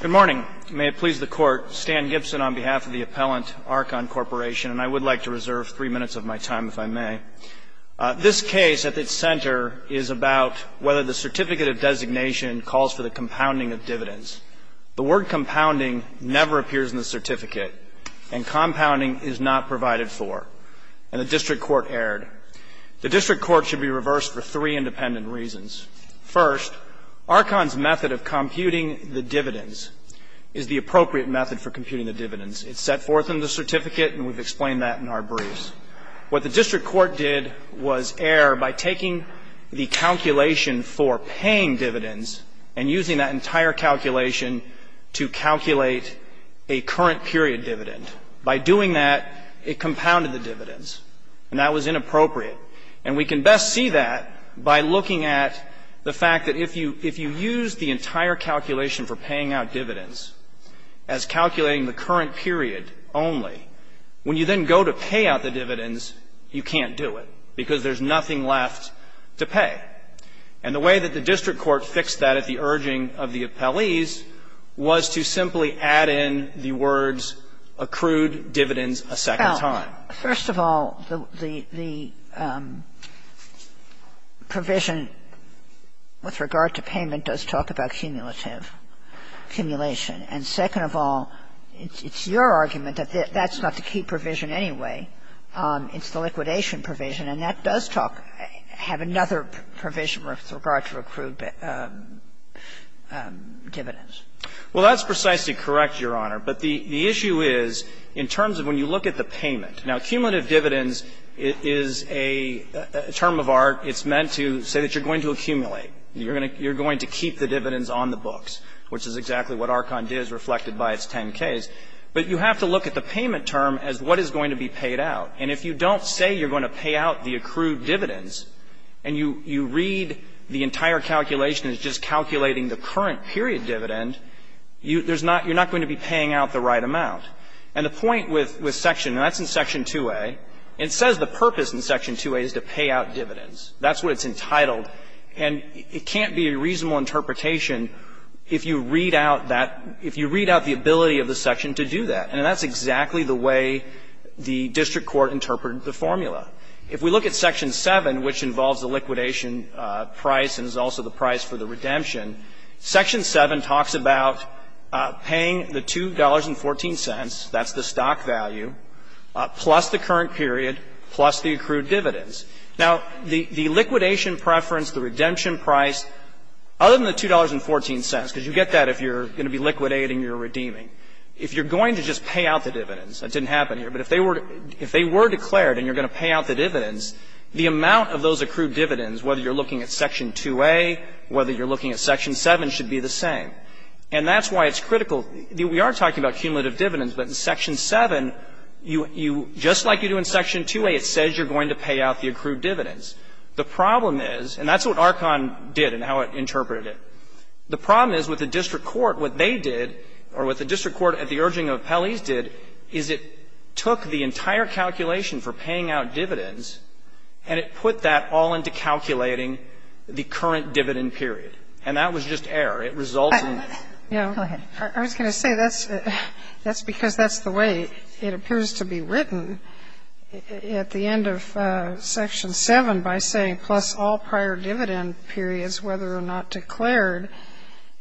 Good morning. May it please the Court, Stan Gibson on behalf of the appellant, Archon Corporation, and I would like to reserve three minutes of my time if I may. This case, at its center, is about whether the certificate of designation calls for the compounding of dividends. The word compounding never appears in the certificate, and compounding is not provided for. And the district court erred. The district court should be reversed for three independent reasons. First, Archon's method of computing the dividends is the appropriate method for computing the dividends. It's set forth in the certificate, and we've explained that in our briefs. What the district court did was err by taking the calculation for paying dividends and using that entire calculation to calculate a current period dividend. By doing that, it compounded the dividends, and that was inappropriate. And we can best see that by looking at the fact that if you use the entire calculation for paying out dividends as calculating the current period only, when you then go to pay out the dividends, you can't do it, because there's nothing left to pay. And the way that the district court fixed that at the urging of the appellees was to simply add in the words, accrued dividends a second time. Sotomayor, first of all, the provision with regard to payment does talk about cumulative accumulation. And second of all, it's your argument that that's not the key provision anyway. It's the liquidation provision, and that does talk of another provision with regard to accrued dividends. Well, that's precisely correct, Your Honor. But the issue is, in terms of when you look at the payment. Now, cumulative dividends is a term of ARC. It's meant to say that you're going to accumulate. You're going to keep the dividends on the books, which is exactly what ARCON did, as reflected by its 10-Ks. But you have to look at the payment term as what is going to be paid out. And if you don't say you're going to pay out the accrued dividends, and you read the entire calculation as just calculating the current period dividend, you're not going to be paying out the right amount. And the point with Section II, and that's in Section 2A, it says the purpose in Section 2A is to pay out dividends. That's what it's entitled. And it can't be a reasonable interpretation if you read out that – if you read out the ability of the section to do that. And that's exactly the way the district court interpreted the formula. If we look at Section 7, which involves the liquidation price and is also the price for the redemption, Section 7 talks about paying the $2.14, that's the stock value, plus the current period, plus the accrued dividends. Now, the liquidation preference, the redemption price, other than the $2.14, because you get that if you're going to be liquidating, you're redeeming, if you're going to just pay out the dividends, that didn't happen here, but if they were declared and you're going to pay out the dividends, the amount of those accrued dividends, whether you're looking at Section 2A, whether you're looking at Section 7, should be the same. And that's why it's critical. We are talking about cumulative dividends, but in Section 7, you – just like you do in Section 2A, it says you're going to pay out the accrued dividends. The problem is, and that's what Archon did and how it interpreted it, the problem is with the district court, what they did, or what the district court at the urging of appellees did, is it took the entire calculation for paying out dividends and it put that all into calculating the current dividend period. And that was just error. It resulted in this. Go ahead. I was going to say, that's because that's the way it appears to be written at the end of Section 7 by saying, plus all prior dividend periods, whether or not declared.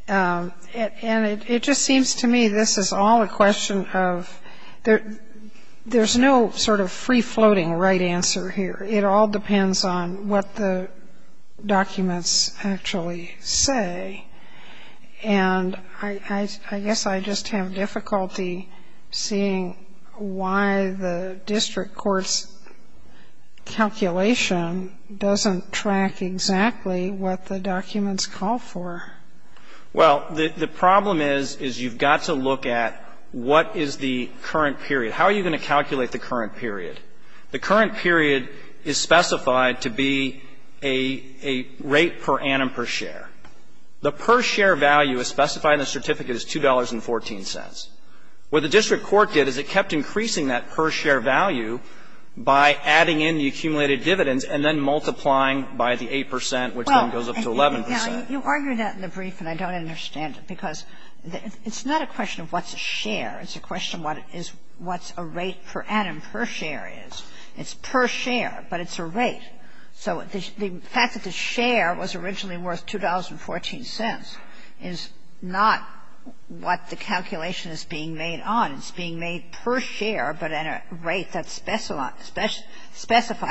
And it just seems to me this is all a question of – there's no sort of free-floating right answer here. It all depends on what the documents actually say. And I guess I just have difficulty seeing why the district court's calculation doesn't track exactly what the documents call for. Well, the problem is, is you've got to look at what is the current period. How are you going to calculate the current period? The current period is specified to be a rate per annum per share. The per share value is specified in the certificate as $2.14. What the district court did is it kept increasing that per share value by adding in the accumulated dividends and then multiplying by the 8 percent, which then goes up to 11 percent. Now, you argue that in the brief, and I don't understand it, because it's not a question of what's a share. It's a question of what is – what's a rate per annum per share is. It's per share, but it's a rate. So the fact that the share was originally worth $2.14 is not what the calculation is being made on. It's being made per share, but at a rate that's specified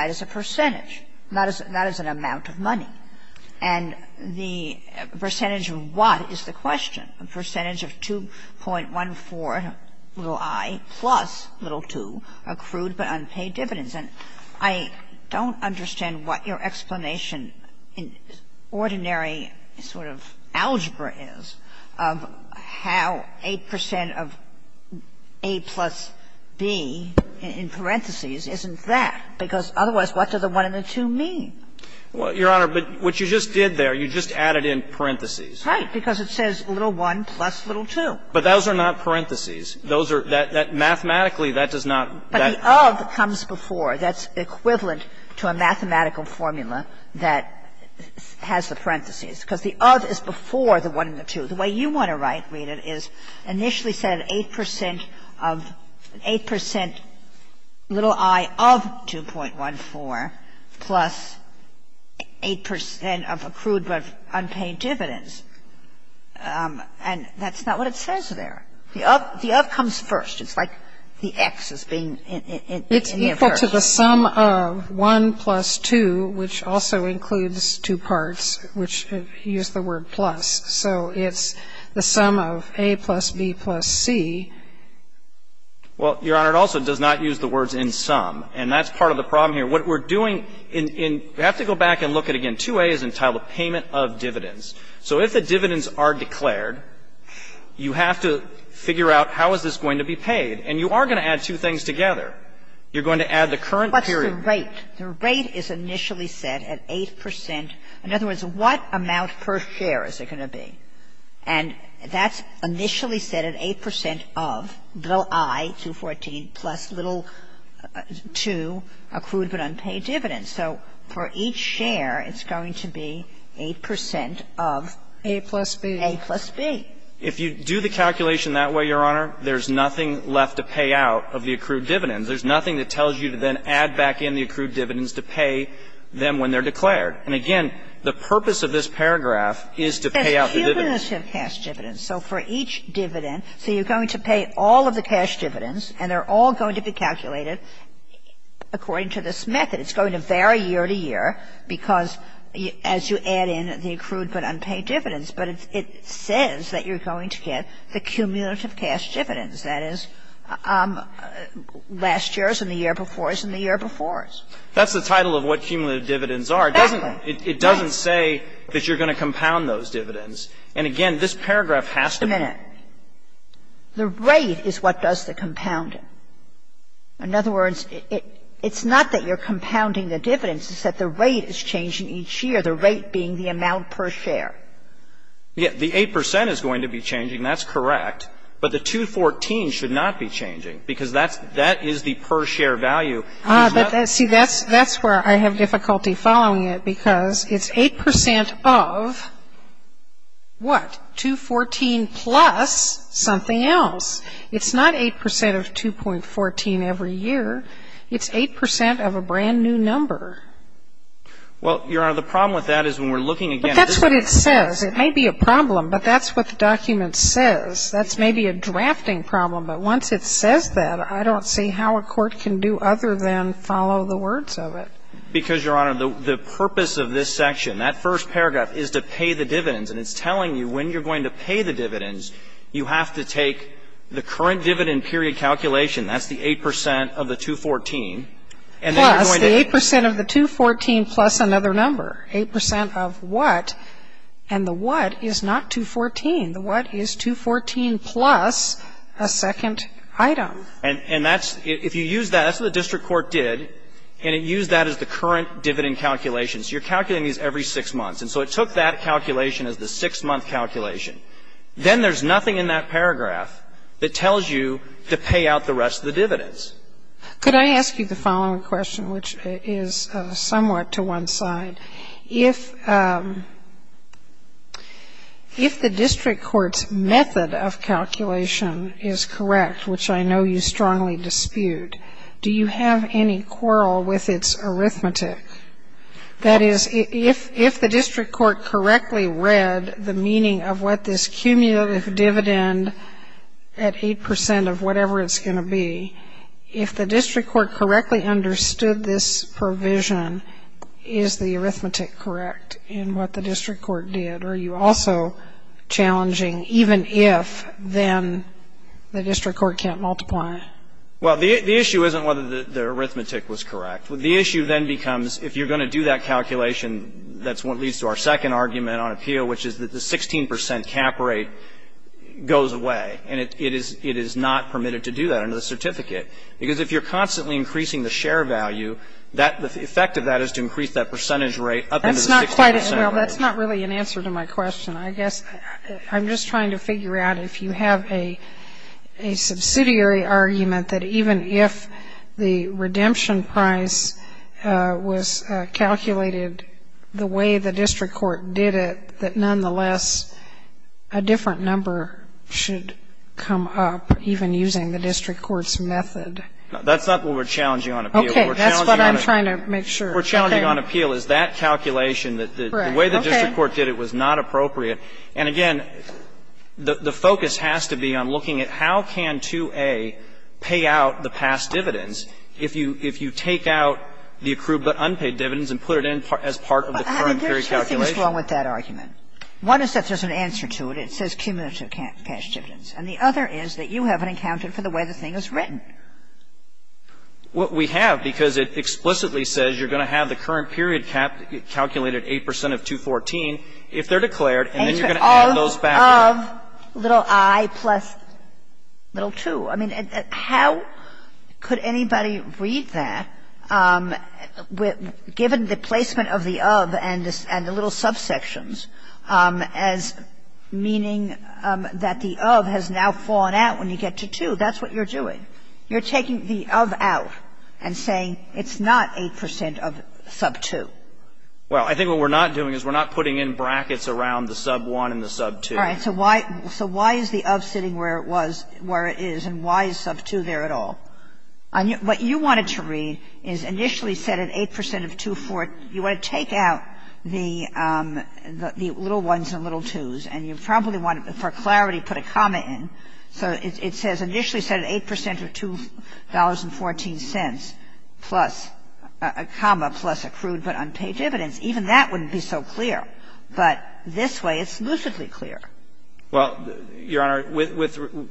as a percentage, not as an amount of money. And the percentage of what is the question? A percentage of 2.14 little i plus little 2 accrued by unpaid dividends. And I don't understand what your explanation in ordinary sort of algebra is of how 8 percent of a plus b in parentheses isn't that. Because otherwise, what does the 1 and the 2 mean? Well, Your Honor, but what you just did there, you just added in parentheses. Right. Because it says little 1 plus little 2. But those are not parentheses. Those are – mathematically, that does not – But the of comes before. That's equivalent to a mathematical formula that has the parentheses. Because the of is before the 1 and the 2. The way you want to write it is initially said 8 percent of – 8 percent little i of 2.14 plus 8 percent of accrued but unpaid dividends. And that's not what it says there. The of comes first. It's like the x is being in the inverse. It's equal to the sum of 1 plus 2, which also includes two parts, which use the word plus, so it's the sum of a plus b plus c. Well, Your Honor, it also does not use the words in sum. And that's part of the problem here. What we're doing in – you have to go back and look at it again. 2a is entitled payment of dividends. So if the dividends are declared, you have to figure out how is this going to be paid. And you are going to add two things together. You're going to add the current period. What's the rate? The rate is initially set at 8 percent. In other words, what amount per share is it going to be? And that's initially set at 8 percent of little i, 2.14, plus little 2, accrued but unpaid dividends. So for each share, it's going to be 8 percent of a plus b. If you do the calculation that way, Your Honor, there's nothing left to pay out of the accrued dividends. There's nothing that tells you to then add back in the accrued dividends to pay them when they're declared. And, again, the purpose of this paragraph is to pay out the dividends. Kagan. It says cumulative cash dividends. So for each dividend, so you're going to pay all of the cash dividends, and they're all going to be calculated according to this method. It's going to vary year to year because as you add in the accrued but unpaid dividends. But it says that you're going to get the cumulative cash dividends. That is, last year's and the year before's and the year before's. That's the title of what cumulative dividends are. Exactly. It doesn't say that you're going to compound those dividends. And, again, this paragraph has to be. Wait a minute. The rate is what does the compounding. In other words, it's not that you're compounding the dividends. It's that the rate is changing each year, the rate being the amount per share. Yes. The 8 percent is going to be changing. That's correct. But the 214 should not be changing because that is the per share value. See, that's where I have difficulty following it because it's 8 percent of what? 214 plus something else. It's not 8 percent of 2.14 every year. It's 8 percent of a brand-new number. Well, Your Honor, the problem with that is when we're looking again. But that's what it says. It may be a problem, but that's what the document says. That's maybe a drafting problem. But once it says that, I don't see how a court can do other than follow the words of it. Because, Your Honor, the purpose of this section, that first paragraph, is to pay the dividends. And it's telling you when you're going to pay the dividends, you have to take the current dividend period calculation. That's the 8 percent of the 214. Plus the 8 percent of the 214 plus another number. 8 percent of what? And the what is not 214. The what is 214 plus a second item. And that's, if you use that, that's what the district court did. And it used that as the current dividend calculation. So you're calculating these every six months. And so it took that calculation as the six-month calculation. Then there's nothing in that paragraph that tells you to pay out the rest of the dividends. Could I ask you the following question, which is somewhat to one side? If the district court's method of calculation is correct, which I know you strongly dispute, do you have any quarrel with its arithmetic? That is, if the district court correctly read the meaning of what this cumulative dividend at 8 percent of whatever it's going to be, if the district court correctly understood this provision, is the arithmetic correct in what the district court did? Or are you also challenging even if, then, the district court can't multiply? Well, the issue isn't whether the arithmetic was correct. The issue then becomes, if you're going to do that calculation, that's what leads to our second argument on appeal, which is that the 16 percent cap rate goes away. And it is not permitted to do that. And that's not an answer to my question. I guess I'm just trying to figure out if you have a subsidiary argument that even if the redemption price was calculated the way the district court did it, that, nonetheless, a different number should come up even using the district court's method of calculation. No, that's not what we're challenging on appeal. Okay. That's what I'm trying to make sure. We're challenging on appeal is that calculation, that the way the district court did it was not appropriate. And, again, the focus has to be on looking at how can 2A pay out the past dividends if you take out the accrued but unpaid dividends and put it in as part of the current period calculation? There are two things wrong with that argument. One is that there's an answer to it. It says cumulative past dividends. And the other is that you haven't accounted for the way the thing is written. What we have, because it explicitly says you're going to have the current period calculated 8 percent of 214, if they're declared, and then you're going to add those back. Of little i plus little 2. I mean, how could anybody read that, given the placement of the of and the little subsections as meaning that the of has now fallen out when you get to 2? That's what you're doing. You're taking the of out and saying it's not 8 percent of sub 2. Well, I think what we're not doing is we're not putting in brackets around the sub 1 and the sub 2. All right. So why is the of sitting where it was, where it is, and why is sub 2 there at all? What you wanted to read is initially set at 8 percent of 214. You want to take out the little 1s and little 2s, and you probably want to, for clarity, put a comma in. So it says initially set at 8 percent of $2.14, plus a comma, plus accrued but unpaid dividends. Even that wouldn't be so clear. But this way it's lucidly clear. Well, Your Honor, with the ----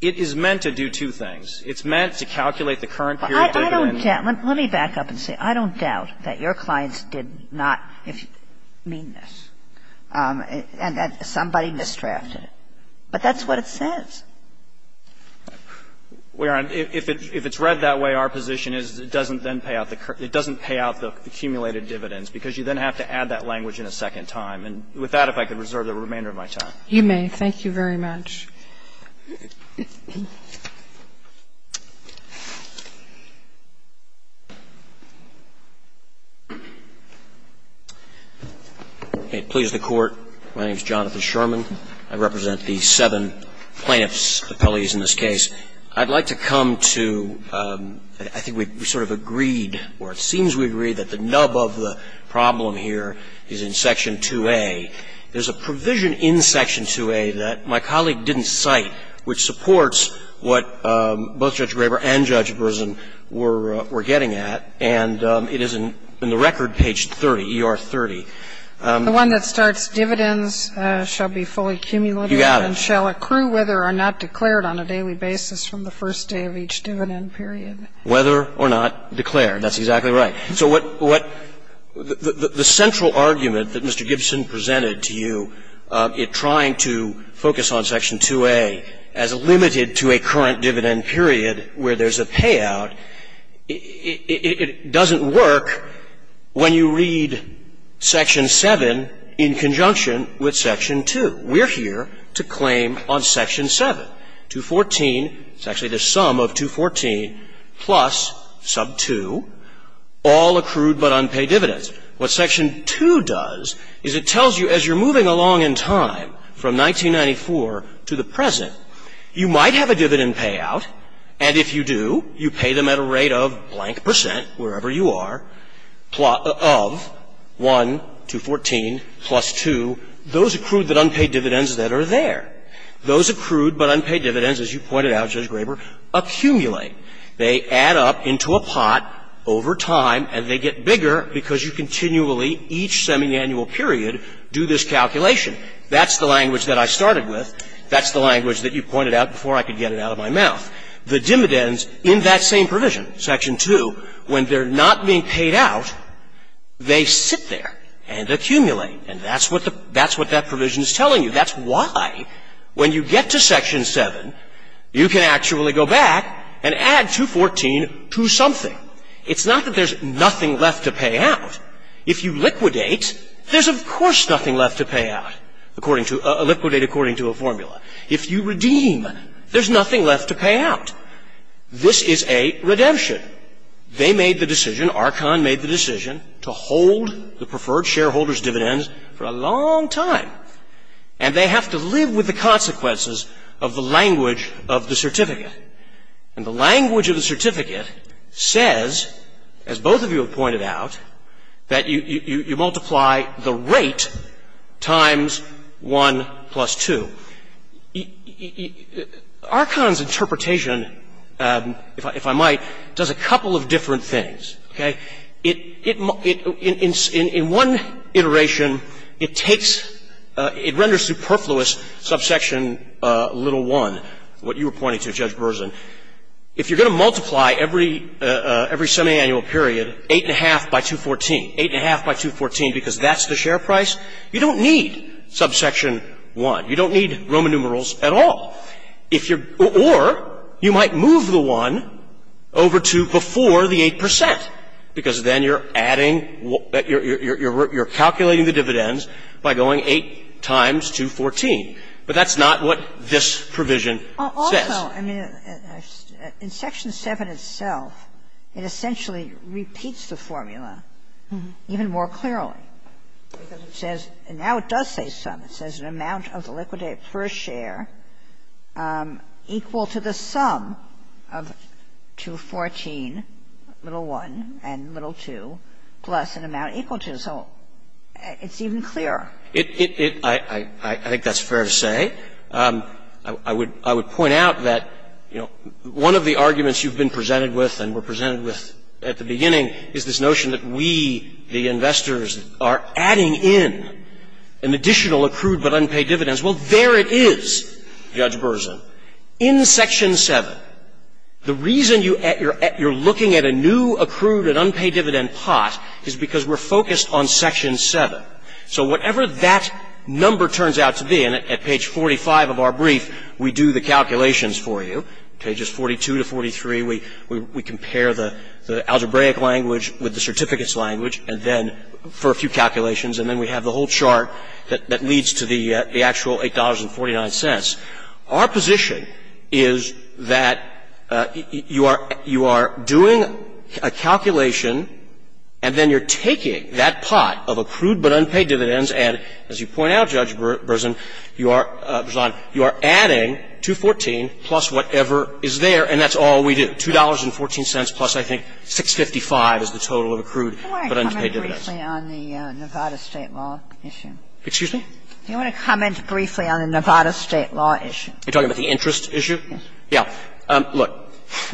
it is meant to do two things. It's meant to calculate the current period of dividends. I don't doubt. Let me back up and say I don't doubt that your clients did not mean this and that somebody misdrafted it. But that's what it says. Well, Your Honor, if it's read that way, our position is it doesn't then pay out the accumulated dividends because you then have to add that language in a second time. And with that, if I could reserve the remainder of my time. You may. Thank you very much. May it please the Court, my name is Jonathan Sherman. I represent the seven plaintiffs' appellees in this case. I'd like to come to, I think we sort of agreed, or it seems we agreed, that the nub of the problem here is in section 2A. There's a provision in section 2A that my colleague didn't cite which supports what both Judge Graber and Judge Berzin were getting at. And it is in the record, page 30, ER30. The one that starts, dividends shall be fully accumulated. You got it. And shall accrue whether or not declared on a daily basis from the first day of each dividend period. Whether or not declared. That's exactly right. So what the central argument that Mr. Gibson presented to you, it trying to focus on section 2A as limited to a current dividend period where there's a payout, it doesn't work when you read section 7 in conjunction with section 2. We're here to claim on section 7. It's actually the sum of 214 plus sub 2, all accrued but unpaid dividends. What section 2 does is it tells you as you're moving along in time from 1994 to the present, you might have a dividend payout, and if you do, you pay them at a rate of blank percent, wherever you are, of 1, 214, plus 2, those accrued but unpaid dividends that are there. Those accrued but unpaid dividends, as you pointed out, Judge Graber, accumulate. They add up into a pot over time, and they get bigger because you continually, each semiannual period, do this calculation. That's the language that I started with. That's the language that you pointed out before I could get it out of my mouth. The dividends in that same provision, section 2, when they're not being paid out, they sit there and accumulate. And that's what the – that's what that provision is telling you. That's why when you get to section 7, you can actually go back and add 214 to something. It's not that there's nothing left to pay out. If you liquidate, there's, of course, nothing left to pay out according to – liquidate according to a formula. If you redeem, there's nothing left to pay out. This is a redemption. for a long time. And they have to live with the consequences of the language of the certificate. And the language of the certificate says, as both of you have pointed out, that you multiply the rate times 1 plus 2. Archon's interpretation, if I might, does a couple of different things. Okay? It – in one iteration, it takes – it renders superfluous subsection little 1, what you were pointing to, Judge Berzin. If you're going to multiply every – every semiannual period, 8.5 by 214, 8.5 by 214 because that's the share price, you don't need subsection 1. You don't need Roman numerals at all. If you're – or you might move the 1 over to before the 8 percent because then you're adding – you're calculating the dividends by going 8 times 214. But that's not what this provision says. Also, I mean, in Section 7 itself, it essentially repeats the formula even more clearly because it says – and now it does say some. It says an amount of the liquidate per share equal to the sum of 214, little 1 and little 2, plus an amount equal to. So it's even clearer. It – I think that's fair to say. I would point out that, you know, one of the arguments you've been presented with and were presented with at the beginning is this notion that we, the investors, are adding in an additional accrued but unpaid dividends. Well, there it is, Judge Berzin. In Section 7, the reason you're looking at a new accrued and unpaid dividend pot is because we're focused on Section 7. So whatever that number turns out to be, and at page 45 of our brief, we do the calculations for you, pages 42 to 43. We compare the algebraic language with the certificates language and then for a few calculations, and then we have the whole chart that leads to the actual $8.49. Our position is that you are doing a calculation and then you're taking that pot of accrued but unpaid dividends and, as you point out, Judge Berzin, you are adding 214 plus whatever is there, and that's all we do. $2.14 plus, I think, 655 is the total of accrued but unpaid dividends. Do you want to comment briefly on the Nevada State law issue? Excuse me? Do you want to comment briefly on the Nevada State law issue? Are you talking about the interest issue? Yes. Yeah. Look,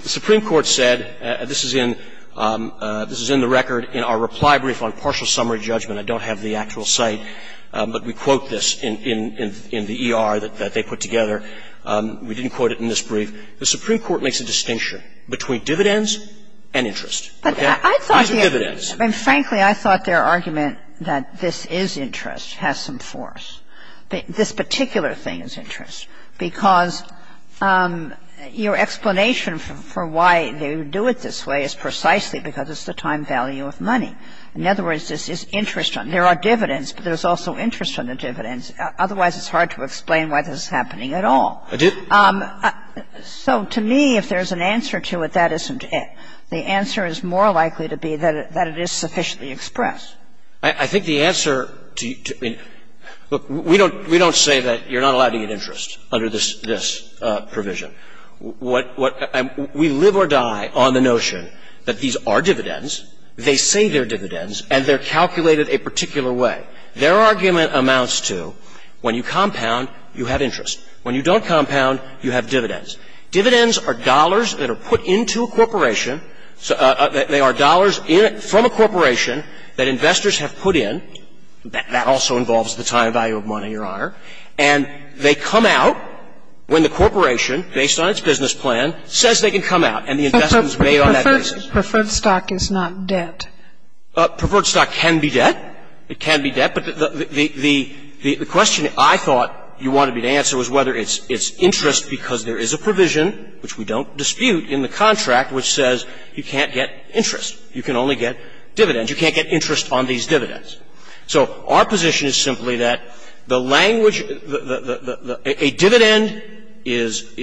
the Supreme Court said, this is in the record in our reply brief on partial summary judgment. I don't have the actual site, but we quote this in the ER that they put together. We didn't quote it in this brief. The Supreme Court makes a distinction between dividends and interest. Okay? These are dividends. And frankly, I thought their argument that this is interest has some force. This particular thing is interest because your explanation for why they would do it this way is precisely because it's the time value of money. In other words, this is interest on. There are dividends, but there's also interest on the dividends. Otherwise, it's hard to explain why this is happening at all. So to me, if there's an answer to it, that isn't it. The answer is more likely to be that it is sufficiently expressed. I think the answer to you – look, we don't say that you're not allowed to get interest under this provision. We live or die on the notion that these are dividends, they say they're dividends, and they're calculated a particular way. Their argument amounts to when you compound, you have interest. When you don't compound, you have dividends. Dividends are dollars that are put into a corporation. They are dollars from a corporation that investors have put in. That also involves the time value of money, Your Honor. And they come out when the corporation, based on its business plan, says they can come out and the investment is made on that basis. But preferred stock is not debt. Preferred stock can be debt. It can be debt, but the question I thought you wanted me to answer was whether it's interest because there is a provision, which we don't dispute, in the contract which says you can't get interest. You can only get dividends. You can't get interest on these dividends. So our position is simply that the language – a dividend is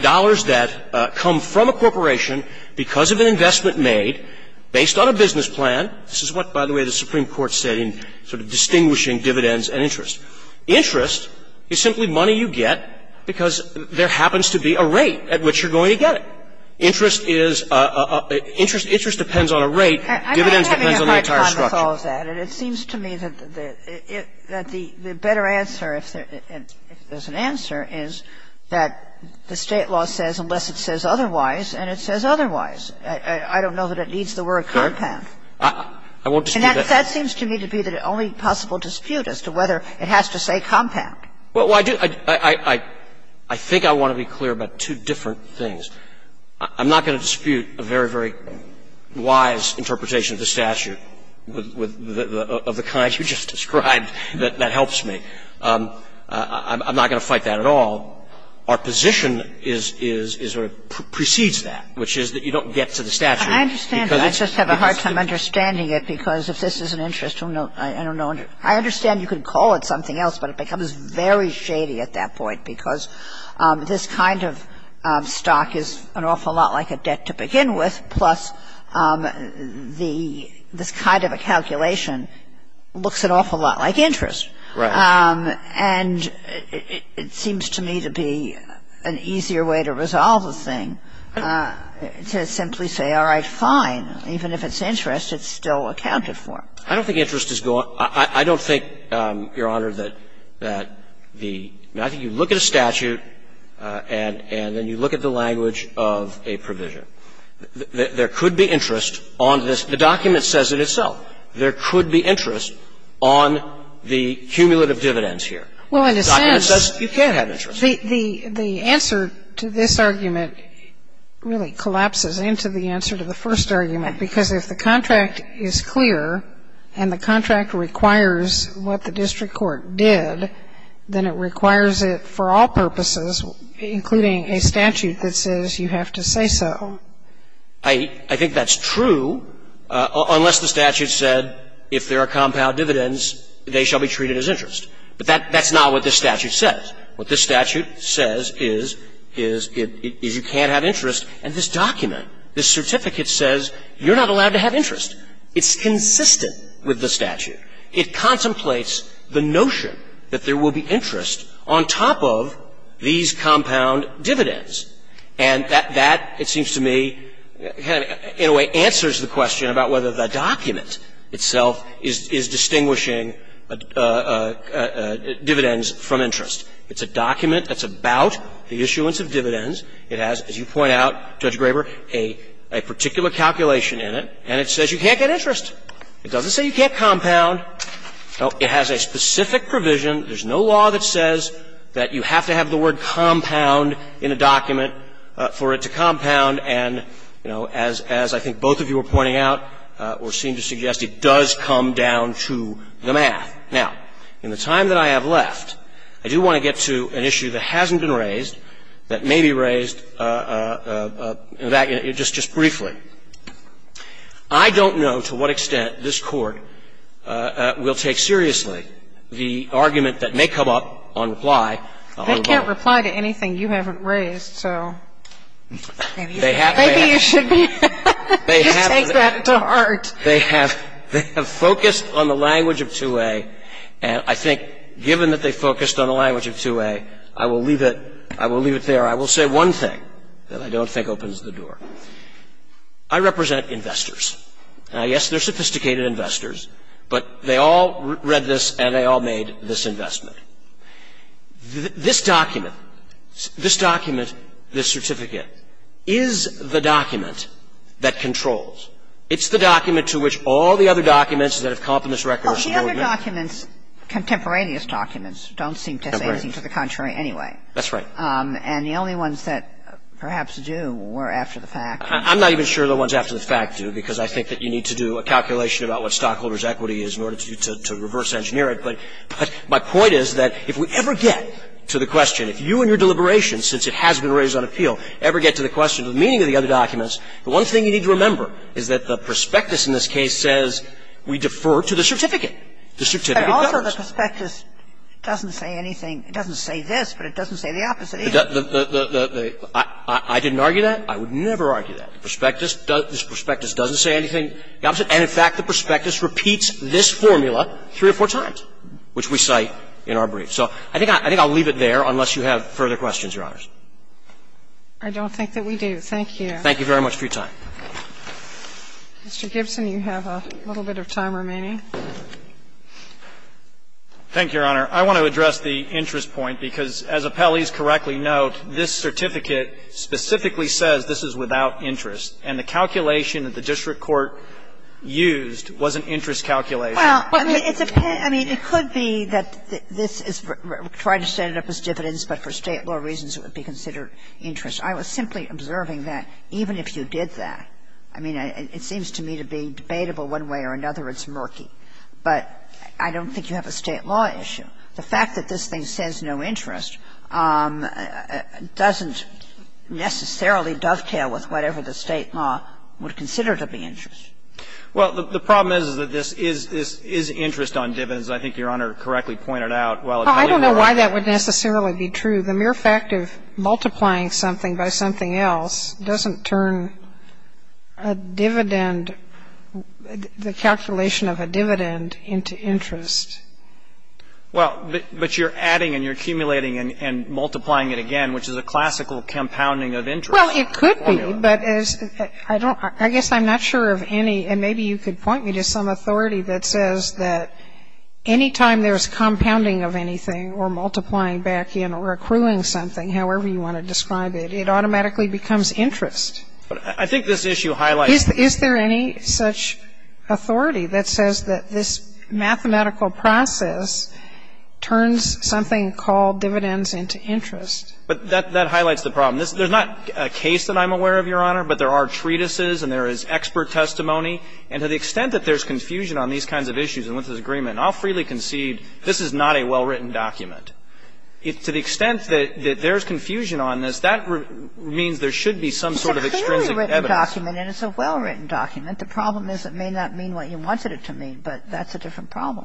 dollars that come from a corporation because of an investment made based on a business plan. This is what, by the way, the Supreme Court said in sort of distinguishing dividends and interest. Interest is simply money you get because there happens to be a rate at which you're going to get it. Interest is a – interest depends on a rate. Dividends depends on the entire structure. And it seems to me that the better answer, if there's an answer, is that the State law says unless it says otherwise and it says otherwise. I don't know that it needs the word compound. I won't dispute that. And that seems to me to be the only possible dispute as to whether it has to say compound. Well, I do – I think I want to be clear about two different things. I'm not going to dispute a very, very wise interpretation of the statute of the kind you just described. That helps me. I'm not going to fight that at all. Our position is – sort of precedes that, which is that you don't get to the statute because it's – I understand that. I just have a hard time understanding it because if this is an interest, I don't know – I understand you could call it something else, but it becomes very shady at that point because this kind of stock is an awful lot like a debt to begin with, plus the – this kind of a calculation looks an awful lot like interest. Right. And it seems to me to be an easier way to resolve the thing to simply say, all right, fine, even if it's interest, it's still accounted for. I don't think interest is – I don't think, Your Honor, that the – I think you look at a statute and then you look at the language of a provision. There could be interest on this. The document says it itself. There could be interest on the cumulative dividends here. Well, in a sense – The document says you can't have interest. Well, the answer to this argument really collapses into the answer to the first argument because if the contract is clear and the contract requires what the district court did, then it requires it for all purposes, including a statute that says you have to say so. I think that's true unless the statute said if there are compound dividends, they shall be treated as interest. But that's not what this statute says. What this statute says is you can't have interest. And this document, this certificate says you're not allowed to have interest. It's consistent with the statute. It contemplates the notion that there will be interest on top of these compound dividends. And that, it seems to me, in a way answers the question about whether the document itself is distinguishing dividends from interest. It's a document that's about the issuance of dividends. It has, as you point out, Judge Graber, a particular calculation in it. And it says you can't get interest. It doesn't say you can't compound. It has a specific provision. There's no law that says that you have to have the word compound in a document for it to compound. And, you know, as I think both of you are pointing out, or seem to suggest, it does come down to the math. Now, in the time that I have left, I do want to get to an issue that hasn't been raised, that may be raised in fact just briefly. I don't know to what extent this Court will take seriously the argument that may come up on reply. They can't reply to anything you haven't raised, so. Maybe you should take that to heart. They have focused on the language of 2A. And I think given that they focused on the language of 2A, I will leave it there. I will say one thing that I don't think opens the door. I represent investors. Now, yes, they're sophisticated investors, but they all read this, and they all made this investment. This document, this document, this certificate, is the document that controls. It's the document to which all the other documents that have confidence records are subordinate. Well, the other documents, contemporaneous documents, don't seem to say anything to the contrary anyway. That's right. And the only ones that perhaps do were after the fact. I'm not even sure the ones after the fact do, because I think that you need to do a calculation about what stockholder's equity is in order to reverse engineer it. But my point is that if we ever get to the question, if you and your deliberations, since it has been raised on appeal, ever get to the question of the meaning of the other documents, the one thing you need to remember is that the prospectus in this case says we defer to the certificate. The certificate governs. But also the prospectus doesn't say anything. It doesn't say this, but it doesn't say the opposite either. The – I didn't argue that. I would never argue that. The prospectus doesn't say anything the opposite. And, in fact, the prospectus repeats this formula three or four times, which we cite in our brief. So I think I'll leave it there unless you have further questions, Your Honors. I don't think that we do. Thank you. Thank you very much for your time. Mr. Gibson, you have a little bit of time remaining. Thank you, Your Honor. I want to address the interest point, because as appellees correctly note, this certificate specifically says this is without interest, and the calculation that the district court used was an interest calculation. Well, I mean, it's a – I mean, it could be that this is trying to set it up as dividends, but for State law reasons it would be considered interest. I was simply observing that even if you did that, I mean, it seems to me to be debatable one way or another, it's murky. But I don't think you have a State law issue. The fact that this thing says no interest doesn't necessarily dovetail with whatever the State law would consider to be interest. Well, the problem is, is that this is interest on dividends. I think Your Honor correctly pointed out, while it may be true. Well, I don't know why that would necessarily be true. The mere fact of multiplying something by something else doesn't turn a dividend and the calculation of a dividend into interest. Well, but you're adding and you're accumulating and multiplying it again, which is a classical compounding of interest. Well, it could be, but as – I don't – I guess I'm not sure of any – and maybe you could point me to some authority that says that any time there's compounding of anything or multiplying back in or accruing something, however you want to describe it, it automatically becomes interest. But I think this issue highlights this. Is there any such authority that says that this mathematical process turns something called dividends into interest? But that highlights the problem. There's not a case that I'm aware of, Your Honor, but there are treatises and there is expert testimony. And to the extent that there's confusion on these kinds of issues and with this agreement, I'll freely concede this is not a well-written document. To the extent that there's confusion on this, that means there should be some sort of extrinsic evidence. It's a fairly written document and it's a well-written document. The problem is it may not mean what you wanted it to mean, but that's a different problem.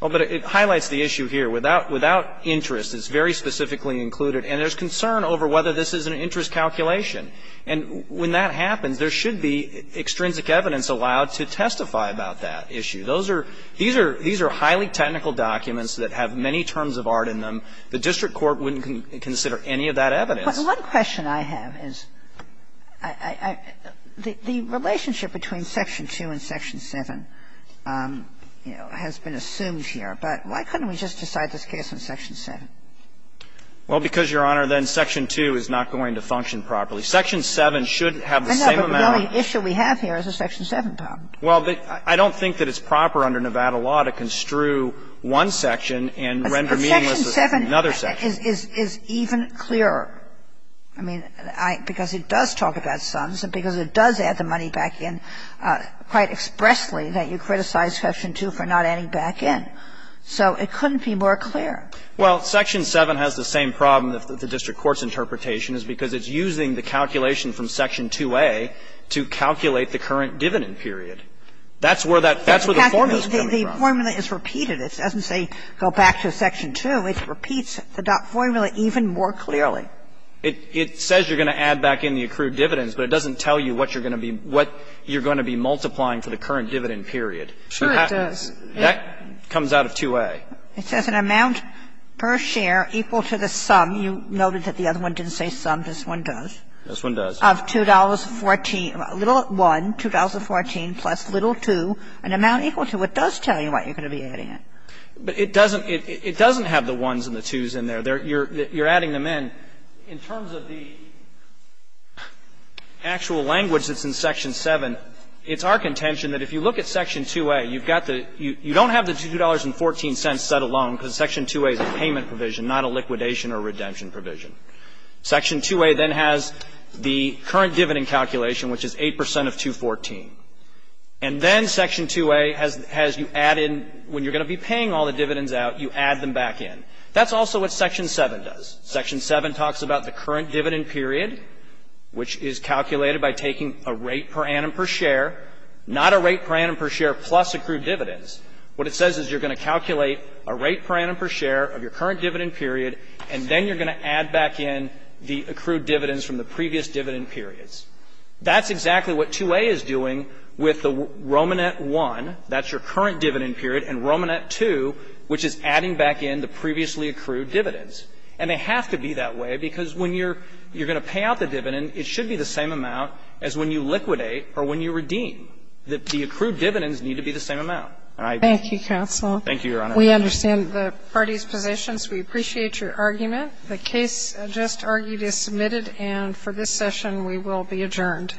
Well, but it highlights the issue here. Without interest, it's very specifically included. And there's concern over whether this is an interest calculation. And when that happens, there should be extrinsic evidence allowed to testify about that issue. Those are – these are highly technical documents that have many terms of art in them. The district court wouldn't consider any of that evidence. But one question I have is, the relationship between Section 2 and Section 7 has been assumed here, but why couldn't we just decide this case on Section 7? Well, because, Your Honor, then Section 2 is not going to function properly. Section 7 should have the same amount of – I know, but the only issue we have here is the Section 7 problem. Well, I don't think that it's proper under Nevada law to construe one section and render meaningless another section. But Section 7 is even clearer, I mean, because it does talk about sums and because it does add the money back in quite expressly that you criticize Section 2 for not adding back in. So it couldn't be more clear. Well, Section 7 has the same problem that the district court's interpretation is because it's using the calculation from Section 2A to calculate the current dividend period. That's where that – that's where the formula is coming from. The formula is repeated. It doesn't say go back to Section 2. It repeats the dot formula even more clearly. It says you're going to add back in the accrued dividends, but it doesn't tell you what you're going to be – what you're going to be multiplying for the current dividend period. Sure, it does. That comes out of 2A. It says an amount per share equal to the sum. You noted that the other one didn't say sum. This one does. This one does. Of $2.14, little 1, $2.14 plus little 2, an amount equal to. But it does tell you what you're going to be adding in. But it doesn't – it doesn't have the 1s and the 2s in there. You're adding them in. In terms of the actual language that's in Section 7, it's our contention that if you look at Section 2A, you've got the – you don't have the $2.14 set alone because Section 2A is a payment provision, not a liquidation or redemption provision. Section 2A then has the current dividend calculation, which is 8 percent of 2.14. And then Section 2A has you add in – when you're going to be paying all the dividends out, you add them back in. That's also what Section 7 does. Section 7 talks about the current dividend period, which is calculated by taking a rate per annum per share, not a rate per annum per share plus accrued dividends. What it says is you're going to calculate a rate per annum per share of your current dividend period, and then you're going to add back in the accrued dividends from the previous dividend periods. That's exactly what 2A is doing with the Romanet I. That's your current dividend period. And Romanet II, which is adding back in the previously accrued dividends. And they have to be that way because when you're going to pay out the dividend, it should be the same amount as when you liquidate or when you redeem. The accrued dividends need to be the same amount. All right. Thank you, counsel. Thank you, Your Honor. We understand the parties' positions. We appreciate your argument. The case just argued is submitted. And for this session, we will be adjourned.